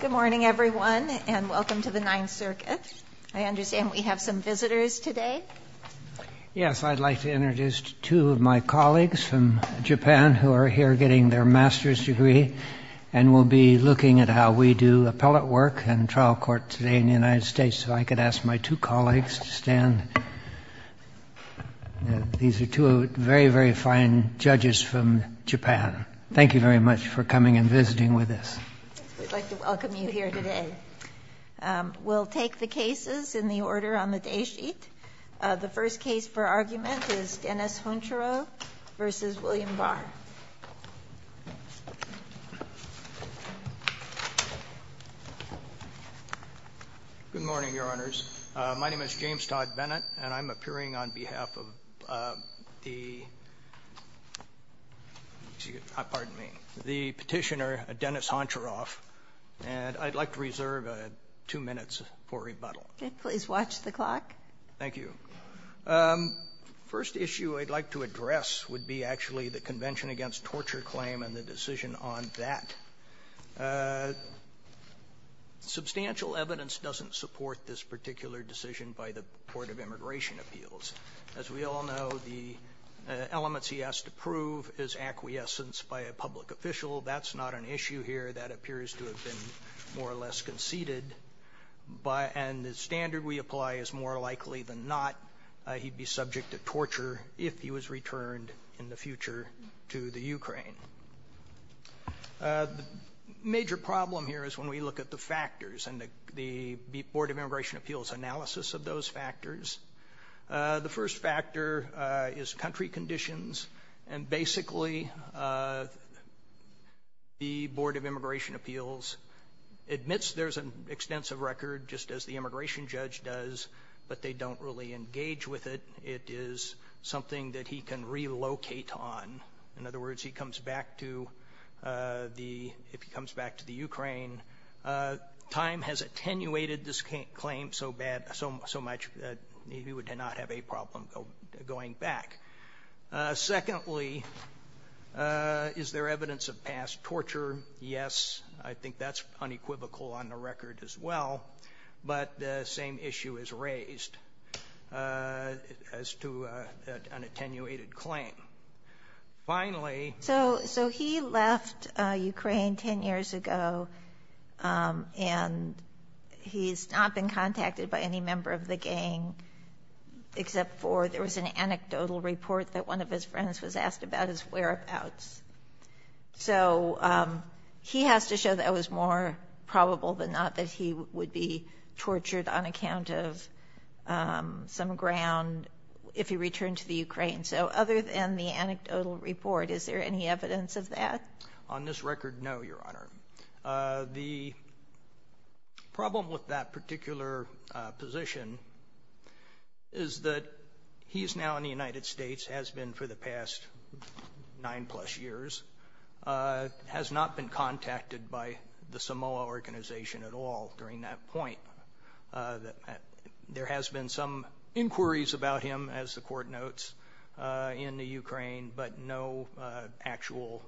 Good morning, everyone, and welcome to the Ninth Circuit. I understand we have some visitors today. Yes, I'd like to introduce two of my colleagues from Japan who are here getting their master's degree and will be looking at how we do appellate work and trial court today in the United States. So I could ask my two colleagues to stand. These are two very, very fine judges from Japan. Thank you very much for coming and visiting with us. We'd like to welcome you here today. We'll take the cases in the order on the day sheet. The first case for argument is Denys Honcharov v. William Barr. Good morning, Your Honors. My name is James Todd Bennett, and I'm appearing on behalf of the petitioner Denys Honcharov, and I'd like to reserve two minutes for rebuttal. Please watch the clock. Thank you. First issue I'd like to address would be actually the Convention Against Torture claim and the decision on that. Substantial evidence doesn't support this particular decision by the Court of Immigration Appeals. As we all know, the elements he has to prove is acquiescence by a public official. That's not an issue here. That appears to have been more or less conceded. And the standard we apply is more likely than not he'd be subject to torture if he was returned in the future to the Ukraine. The major problem here is when we look at the factors and the Board of Immigration Appeals analysis of those factors. The first factor is country conditions, and basically the Board of Immigration Appeals admits there's an extensive record, just as the immigration judge does, but they don't really engage with it. It is something that he can relocate on. In other words, if he comes back to the Ukraine, time has attenuated this claim so much that he would not have a problem going back. Secondly, is there evidence of past torture? Yes. I think that's unequivocal on the record as well. But the same issue is raised as to an attenuated claim. Finally. So he left Ukraine 10 years ago, and he's not been contacted by any member of the gang except for there was an anecdotal report that one of his friends was asked about his whereabouts. So he has to show that it was more probable than not that he would be tortured on account of some ground if he returned to the Ukraine. So other than the anecdotal report, is there any evidence of that? On this record, no, Your Honor. The problem with that particular position is that he is now in the United States, has been for the past nine-plus years, has not been contacted by the Samoa organization at all during that point. There has been some inquiries about him, as the Court notes, in the Ukraine, but no actual,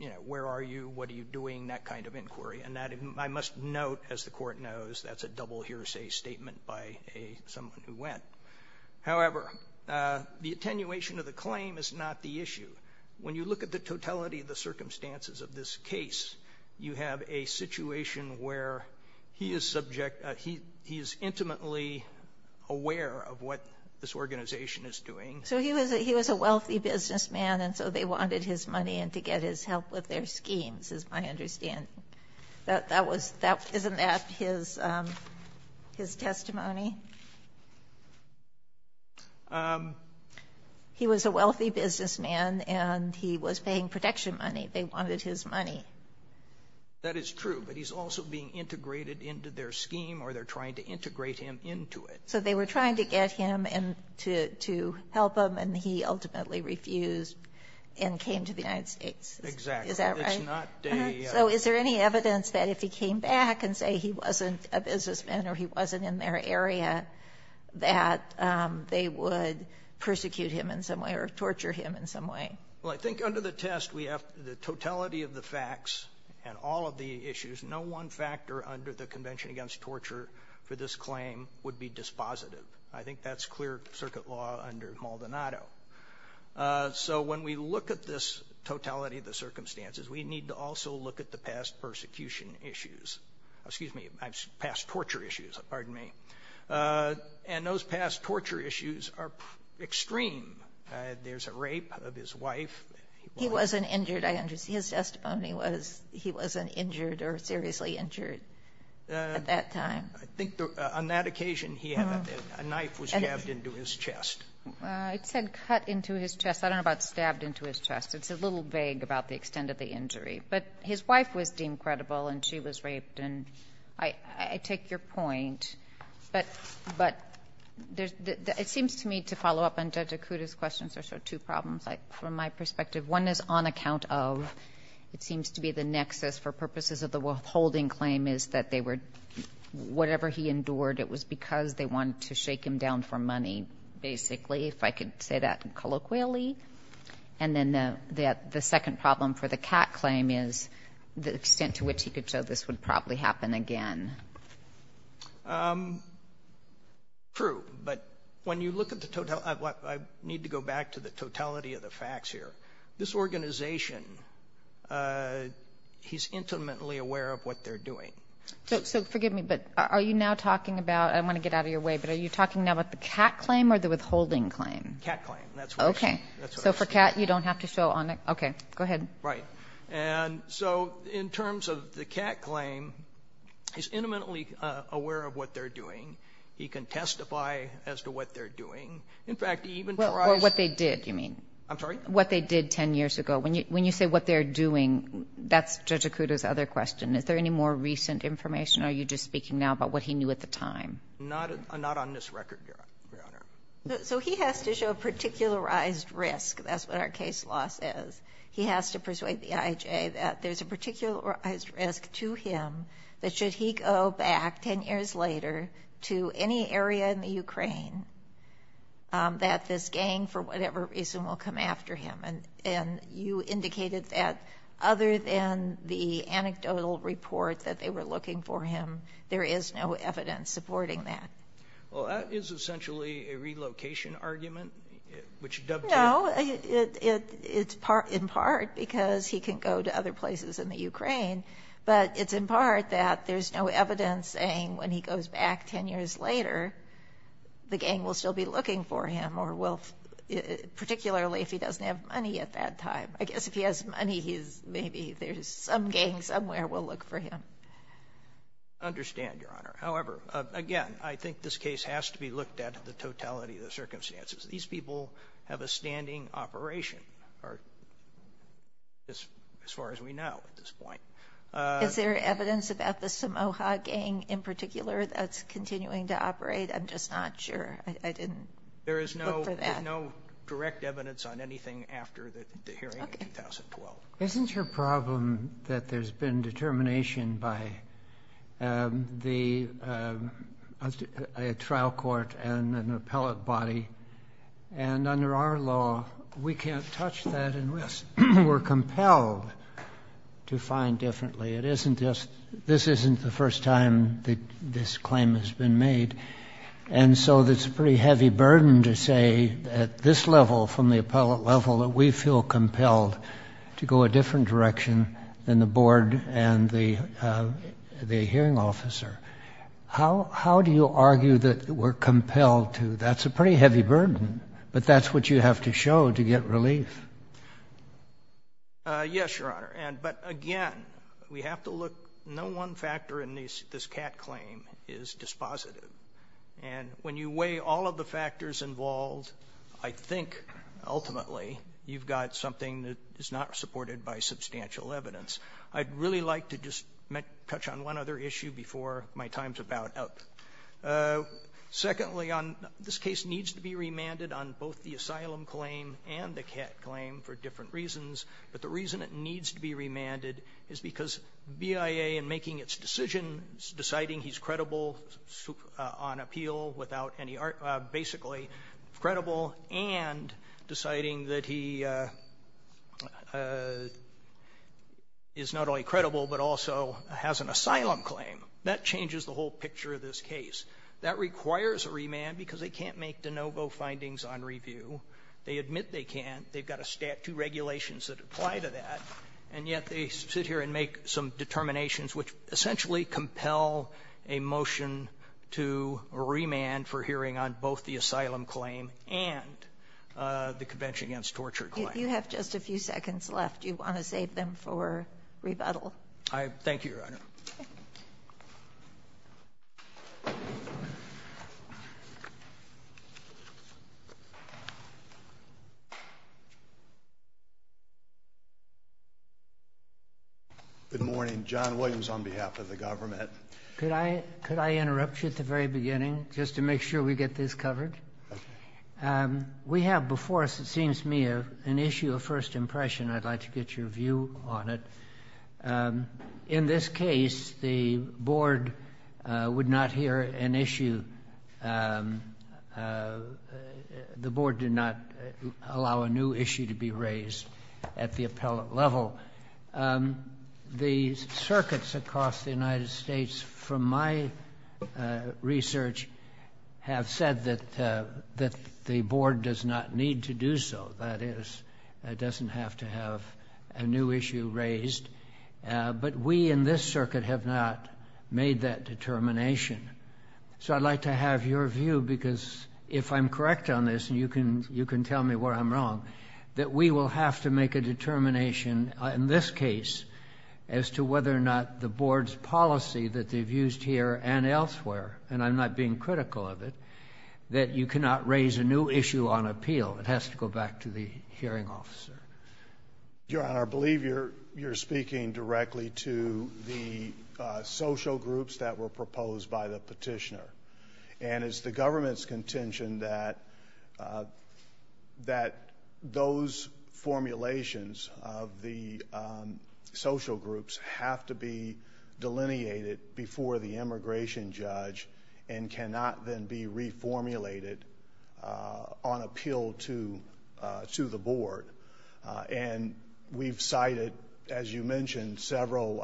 you know, where are you, what are you doing, that kind of inquiry. And I must note, as the Court knows, that's a double hearsay statement by someone who went. However, the attenuation of the claim is not the issue. When you look at the totality of the circumstances of this case, you have a situation where he is subject, he is intimately aware of what this organization is doing. So he was a wealthy businessman, and so they wanted his money and to get his help with their schemes, is my understanding. Isn't that his testimony? He was a wealthy businessman, and he was paying protection money. They wanted his money. That is true, but he's also being integrated into their scheme, or they're trying to integrate him into it. So they were trying to get him to help them, and he ultimately refused and came to the United States. Exactly. Is that right? It's not day yet. So is there any evidence that if he came back and say he wasn't a businessman or he wasn't in their area, that they would persecute him in some way or torture him in some way? Well, I think under the test, we have the totality of the facts and all of the issues. No one factor under the Convention Against Torture for this claim would be dispositive. I think that's clear circuit law under Maldonado. So when we look at this totality of the circumstances, we need to also look at the past persecution issues. Excuse me, past torture issues, pardon me. And those past torture issues are extreme. There's a rape of his wife. He wasn't injured, I understand. His testimony was he wasn't injured or seriously injured at that time. I think on that occasion, a knife was jabbed into his chest. It said cut into his chest. I don't know about stabbed into his chest. It's a little vague about the extent of the injury. But his wife was deemed credible, and she was raped. And I take your point. But it seems to me to follow up on Judge Acuda's questions, there are two problems from my perspective. One is on account of, it seems to be the nexus for purposes of the withholding claim, is that they were, whatever he endured, it was because they wanted to shake him down for money, basically, if I could say that colloquially. And then the second problem for the CAC claim is the extent to which he could show this would probably happen again. True. But when you look at the totality, I need to go back to the totality of the facts here. This organization, he's intimately aware of what they're doing. So forgive me, but are you now talking about, I want to get out of your way, but are you talking now about the CAC claim or the withholding claim? CAC claim. Okay. So for CAC, you don't have to show on it? Okay. Go ahead. Right. And so in terms of the CAC claim, he's intimately aware of what they're doing. He can testify as to what they're doing. In fact, even for us What they did, you mean? I'm sorry? What they did 10 years ago. When you say what they're doing, that's Judge Acuda's other question. Is there any more recent information, or are you just speaking now about what he knew at the time? Not on this record, Your Honor. So he has to show a particularized risk. That's what our case law says. He has to persuade the IHA that there's a particularized risk to him that should he go back 10 years later to any area in the Ukraine, that this gang, for whatever reason, will come after him. And you indicated that other than the anecdotal report that they were looking for him, there is no evidence supporting that. Well, that is essentially a relocation argument, which dubs him. No. It's in part because he can go to other places in the Ukraine. But it's in part that there's no evidence saying when he goes back 10 years later, the gang will still be looking for him, particularly if he doesn't have money at that time. I guess if he has money, maybe there's some gang somewhere will look for him. I understand, Your Honor. However, again, I think this case has to be looked at the totality of the circumstances. These people have a standing operation as far as we know at this point. Is there evidence about the Samoha gang in particular that's continuing to operate? I'm just not sure. I didn't look for that. There is no direct evidence on anything after the hearing in 2012. Isn't your problem that there's been determination by the trial court and an appellate body? And under our law, we can't touch that and we're compelled to find differently. This isn't the first time that this claim has been made. And so it's a pretty heavy burden to say at this level, from the appellate level, that we feel compelled to go a different direction than the board and the hearing officer. How do you argue that we're compelled to? That's a pretty heavy burden, but that's what you have to show to get relief. Yes, Your Honor. But, again, we have to look. No one factor in this Catt claim is dispositive. And when you weigh all of the factors involved, I think, ultimately, you've got something that is not supported by substantial evidence. I'd really like to just touch on one other issue before my time's about up. Secondly, this case needs to be remanded on both the asylum claim and the Catt claim for different reasons, but the reason it needs to be remanded is because BIA, in making its decision, is deciding he's credible on appeal without any art, basically, credible, and deciding that he is not only credible but also has an asylum claim. That changes the whole picture of this case. That requires a remand because they can't make de novo findings on review. They admit they can't. They've got two regulations that apply to that, and yet they sit here and make some determinations which essentially compel a motion to remand for hearing on both the asylum claim and the Convention Against Torture claim. You have just a few seconds left. Do you want to save them for rebuttal? Thank you, Your Honor. Thank you. Good morning. John Williams on behalf of the government. Could I interrupt you at the very beginning just to make sure we get this covered? Okay. We have before us, it seems to me, an issue of first impression. I'd like to get your view on it. In this case, the board would not hear an issue. The board did not allow a new issue to be raised at the appellate level. The circuits across the United States, from my research, have said that the board does not need to do so. That is, it doesn't have to have a new issue raised. But we in this circuit have not made that determination. So I'd like to have your view, because if I'm correct on this, and you can tell me where I'm wrong, that we will have to make a determination in this case as to whether or not the board's policy that they've used here and elsewhere, and I'm not being critical of it, that you cannot raise a new issue on appeal. It has to go back to the hearing officer. Your Honor, I believe you're speaking directly to the social groups that were proposed by the petitioner. And it's the government's contention that those formulations of the social groups have to be delineated before the immigration judge and cannot then be reformulated on appeal to the board. And we've cited, as you mentioned, several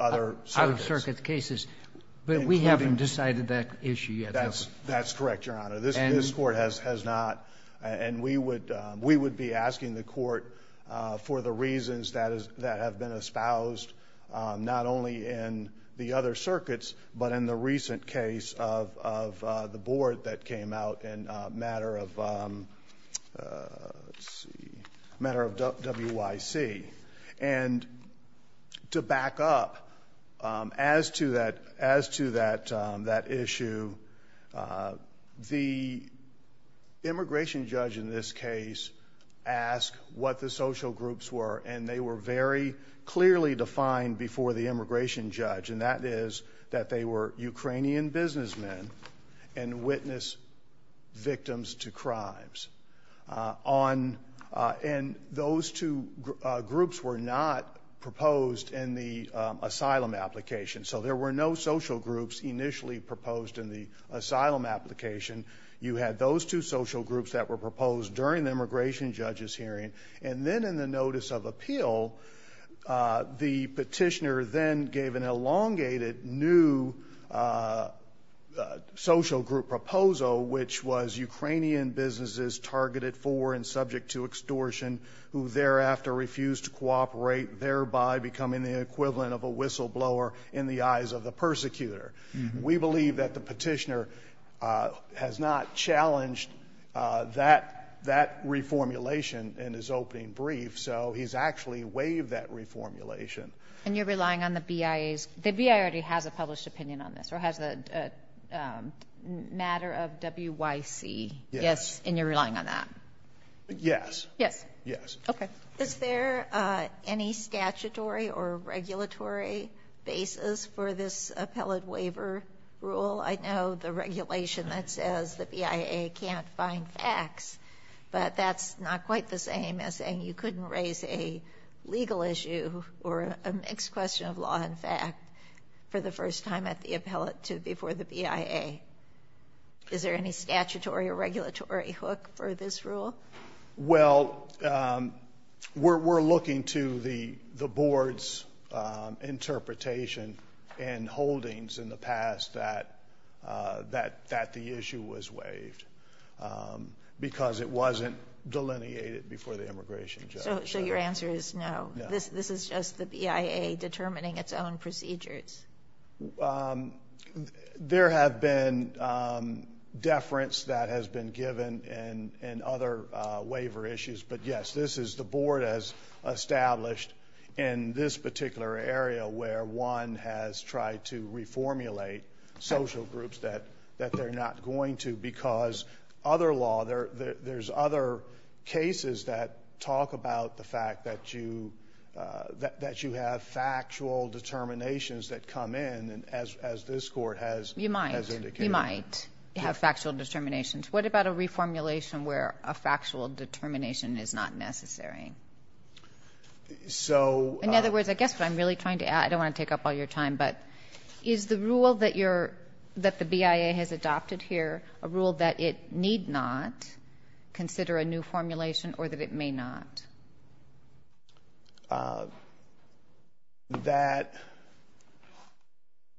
other circuits. Out-of-circuit cases. But we haven't decided that issue yet. That's correct, Your Honor. And we would be asking the court for the reasons that have been espoused not only in the other circuits, but in the recent case of the board that came out in a matter of WIC. And to back up as to that issue, the immigration judge in this case asked what the social groups were, and they were very clearly defined before the immigration judge, and that is that they were Ukrainian businessmen and witness victims to crimes. And those two groups were not proposed in the asylum application. So there were no social groups initially proposed in the asylum application. You had those two social groups that were proposed during the immigration judge's hearing. And then in the notice of appeal, the petitioner then gave an elongated new social group proposal, which was Ukrainian businesses targeted for and subject to extortion, who thereafter refused to cooperate, thereby becoming the equivalent of a whistleblower in the eyes of the persecutor. We believe that the petitioner has not challenged that reformulation in his opening brief, so he's actually waived that reformulation. And you're relying on the BIA's – the BIA already has a published opinion on this, or has a matter of WIC. Yes. And you're relying on that? Yes. Yes. Yes. Okay. Is there any statutory or regulatory basis for this appellate waiver rule? I know the regulation that says the BIA can't find facts, but that's not quite the same as saying you couldn't raise a legal issue or a mixed question of law and fact for the first time at the appellate before the BIA. Is there any statutory or regulatory hook for this rule? Well, we're looking to the board's interpretation and holdings in the past that the issue was waived, because it wasn't delineated before the immigration judge. So your answer is no? No. This is just the BIA determining its own procedures? There have been deference that has been given and other waiver issues, but yes, this is the board has established in this particular area where one has tried to reformulate social groups that they're not going to because other law, there's other cases that talk about the fact that you have factual determinations that come in, as this court has indicated. You might. You might have factual determinations. What about a reformulation where a factual determination is not necessary? In other words, I guess what I'm really trying to ask, I don't want to take up all your time, but is the rule that the BIA has adopted here a rule that it need not consider a new formulation or that it may not?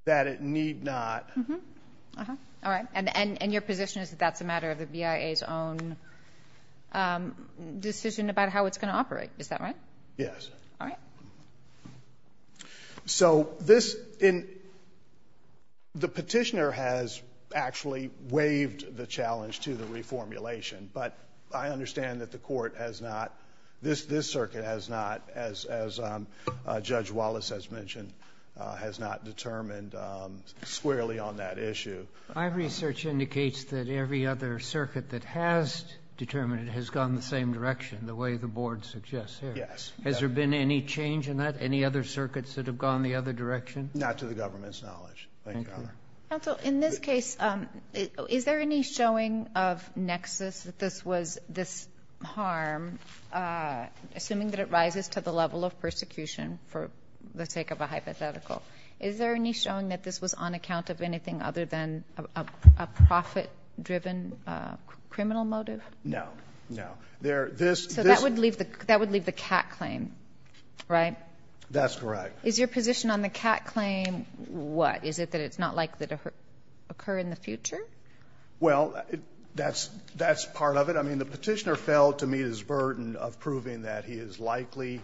That it need not. All right. And your position is that that's a matter of the BIA's own decision about how it's going to operate, is that right? Yes. All right. So this, the petitioner has actually waived the challenge to the reformulation, but I understand that the court has not, this circuit has not, as Judge Wallace has mentioned, has not determined squarely on that issue. My research indicates that every other circuit that has determined it has gone the same direction, the way the board suggests here. Yes. Has there been any change in that, any other circuits that have gone the other direction? Not to the government's knowledge. Thank you, Your Honor. Counsel, in this case, is there any showing of nexus that this was this harm, assuming that it rises to the level of persecution for the sake of a hypothetical? Is there any showing that this was on account of anything other than a profit-driven criminal motive? No. No. So that would leave the cat claim, right? That's correct. Is your position on the cat claim what? Is it that it's not likely to occur in the future? Well, that's part of it. I mean, the petitioner failed to meet his burden of proving that he is likely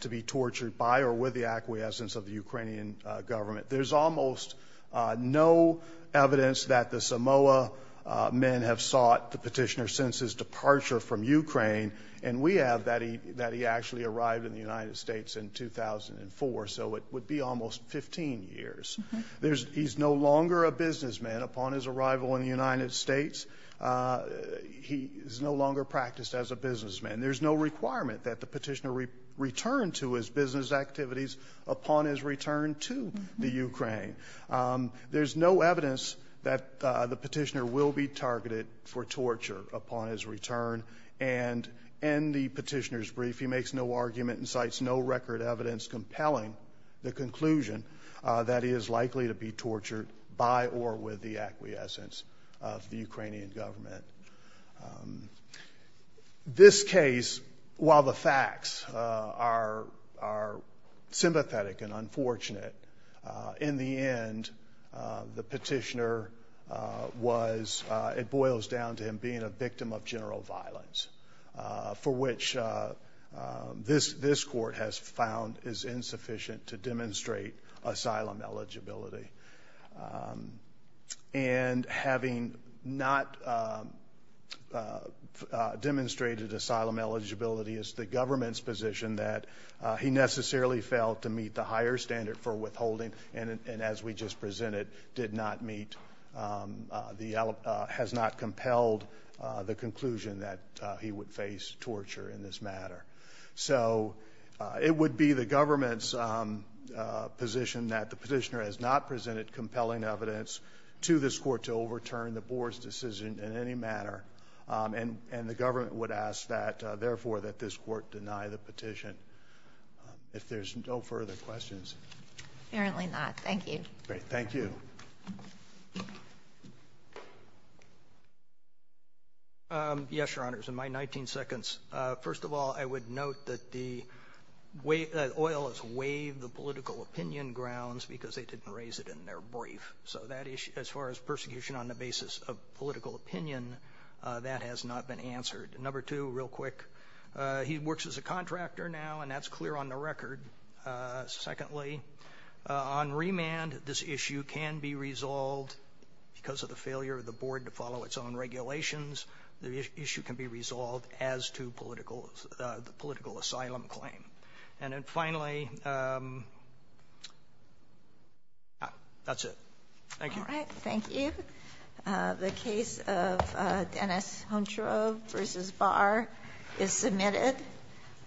to be tortured by or with the acquiescence of the Ukrainian government. There's almost no evidence that the Samoa men have sought the petitioner since his departure from Ukraine, and we have that he actually arrived in the United States in 2004. So it would be almost 15 years. He's no longer a businessman. Upon his arrival in the United States, he is no longer practiced as a businessman. There's no requirement that the petitioner return to his business activities upon his return to the Ukraine. There's no evidence that the petitioner will be targeted for torture upon his return. And in the petitioner's brief, he makes no argument and cites no record evidence compelling the conclusion that he is likely to be tortured by or with the acquiescence of the Ukrainian government. This case, while the facts are sympathetic and unfortunate, in the end, the petitioner was – it boils down to him being a victim of general violence, for which this court has found is insufficient to demonstrate asylum eligibility. And having not demonstrated asylum eligibility, it's the government's position that he necessarily failed to meet the higher standard for withholding and, as we just presented, did not meet the – has not compelled the conclusion that he would face torture in this matter. So it would be the government's position that the petitioner has not presented compelling evidence to this court to overturn the board's decision in any manner. And the government would ask that, therefore, that this court deny the petition. If there's no further questions. Apparently not. Thank you. Great. Thank you. Yes, Your Honors. In my 19 seconds, first of all, I would note that the oil has waived the political opinion grounds because they didn't raise it in their brief. So that issue, as far as persecution on the basis of political opinion, that has not been answered. Number two, real quick, he works as a contractor now, and that's clear on the record. Secondly, on remand, this issue can be resolved because of the failure of the board to follow its own regulations. The issue can be resolved as to political – the political asylum claim. And then finally, that's it. Thank you. All right. Thank you. The case of Dennis Huntsgrove v. Barr is submitted.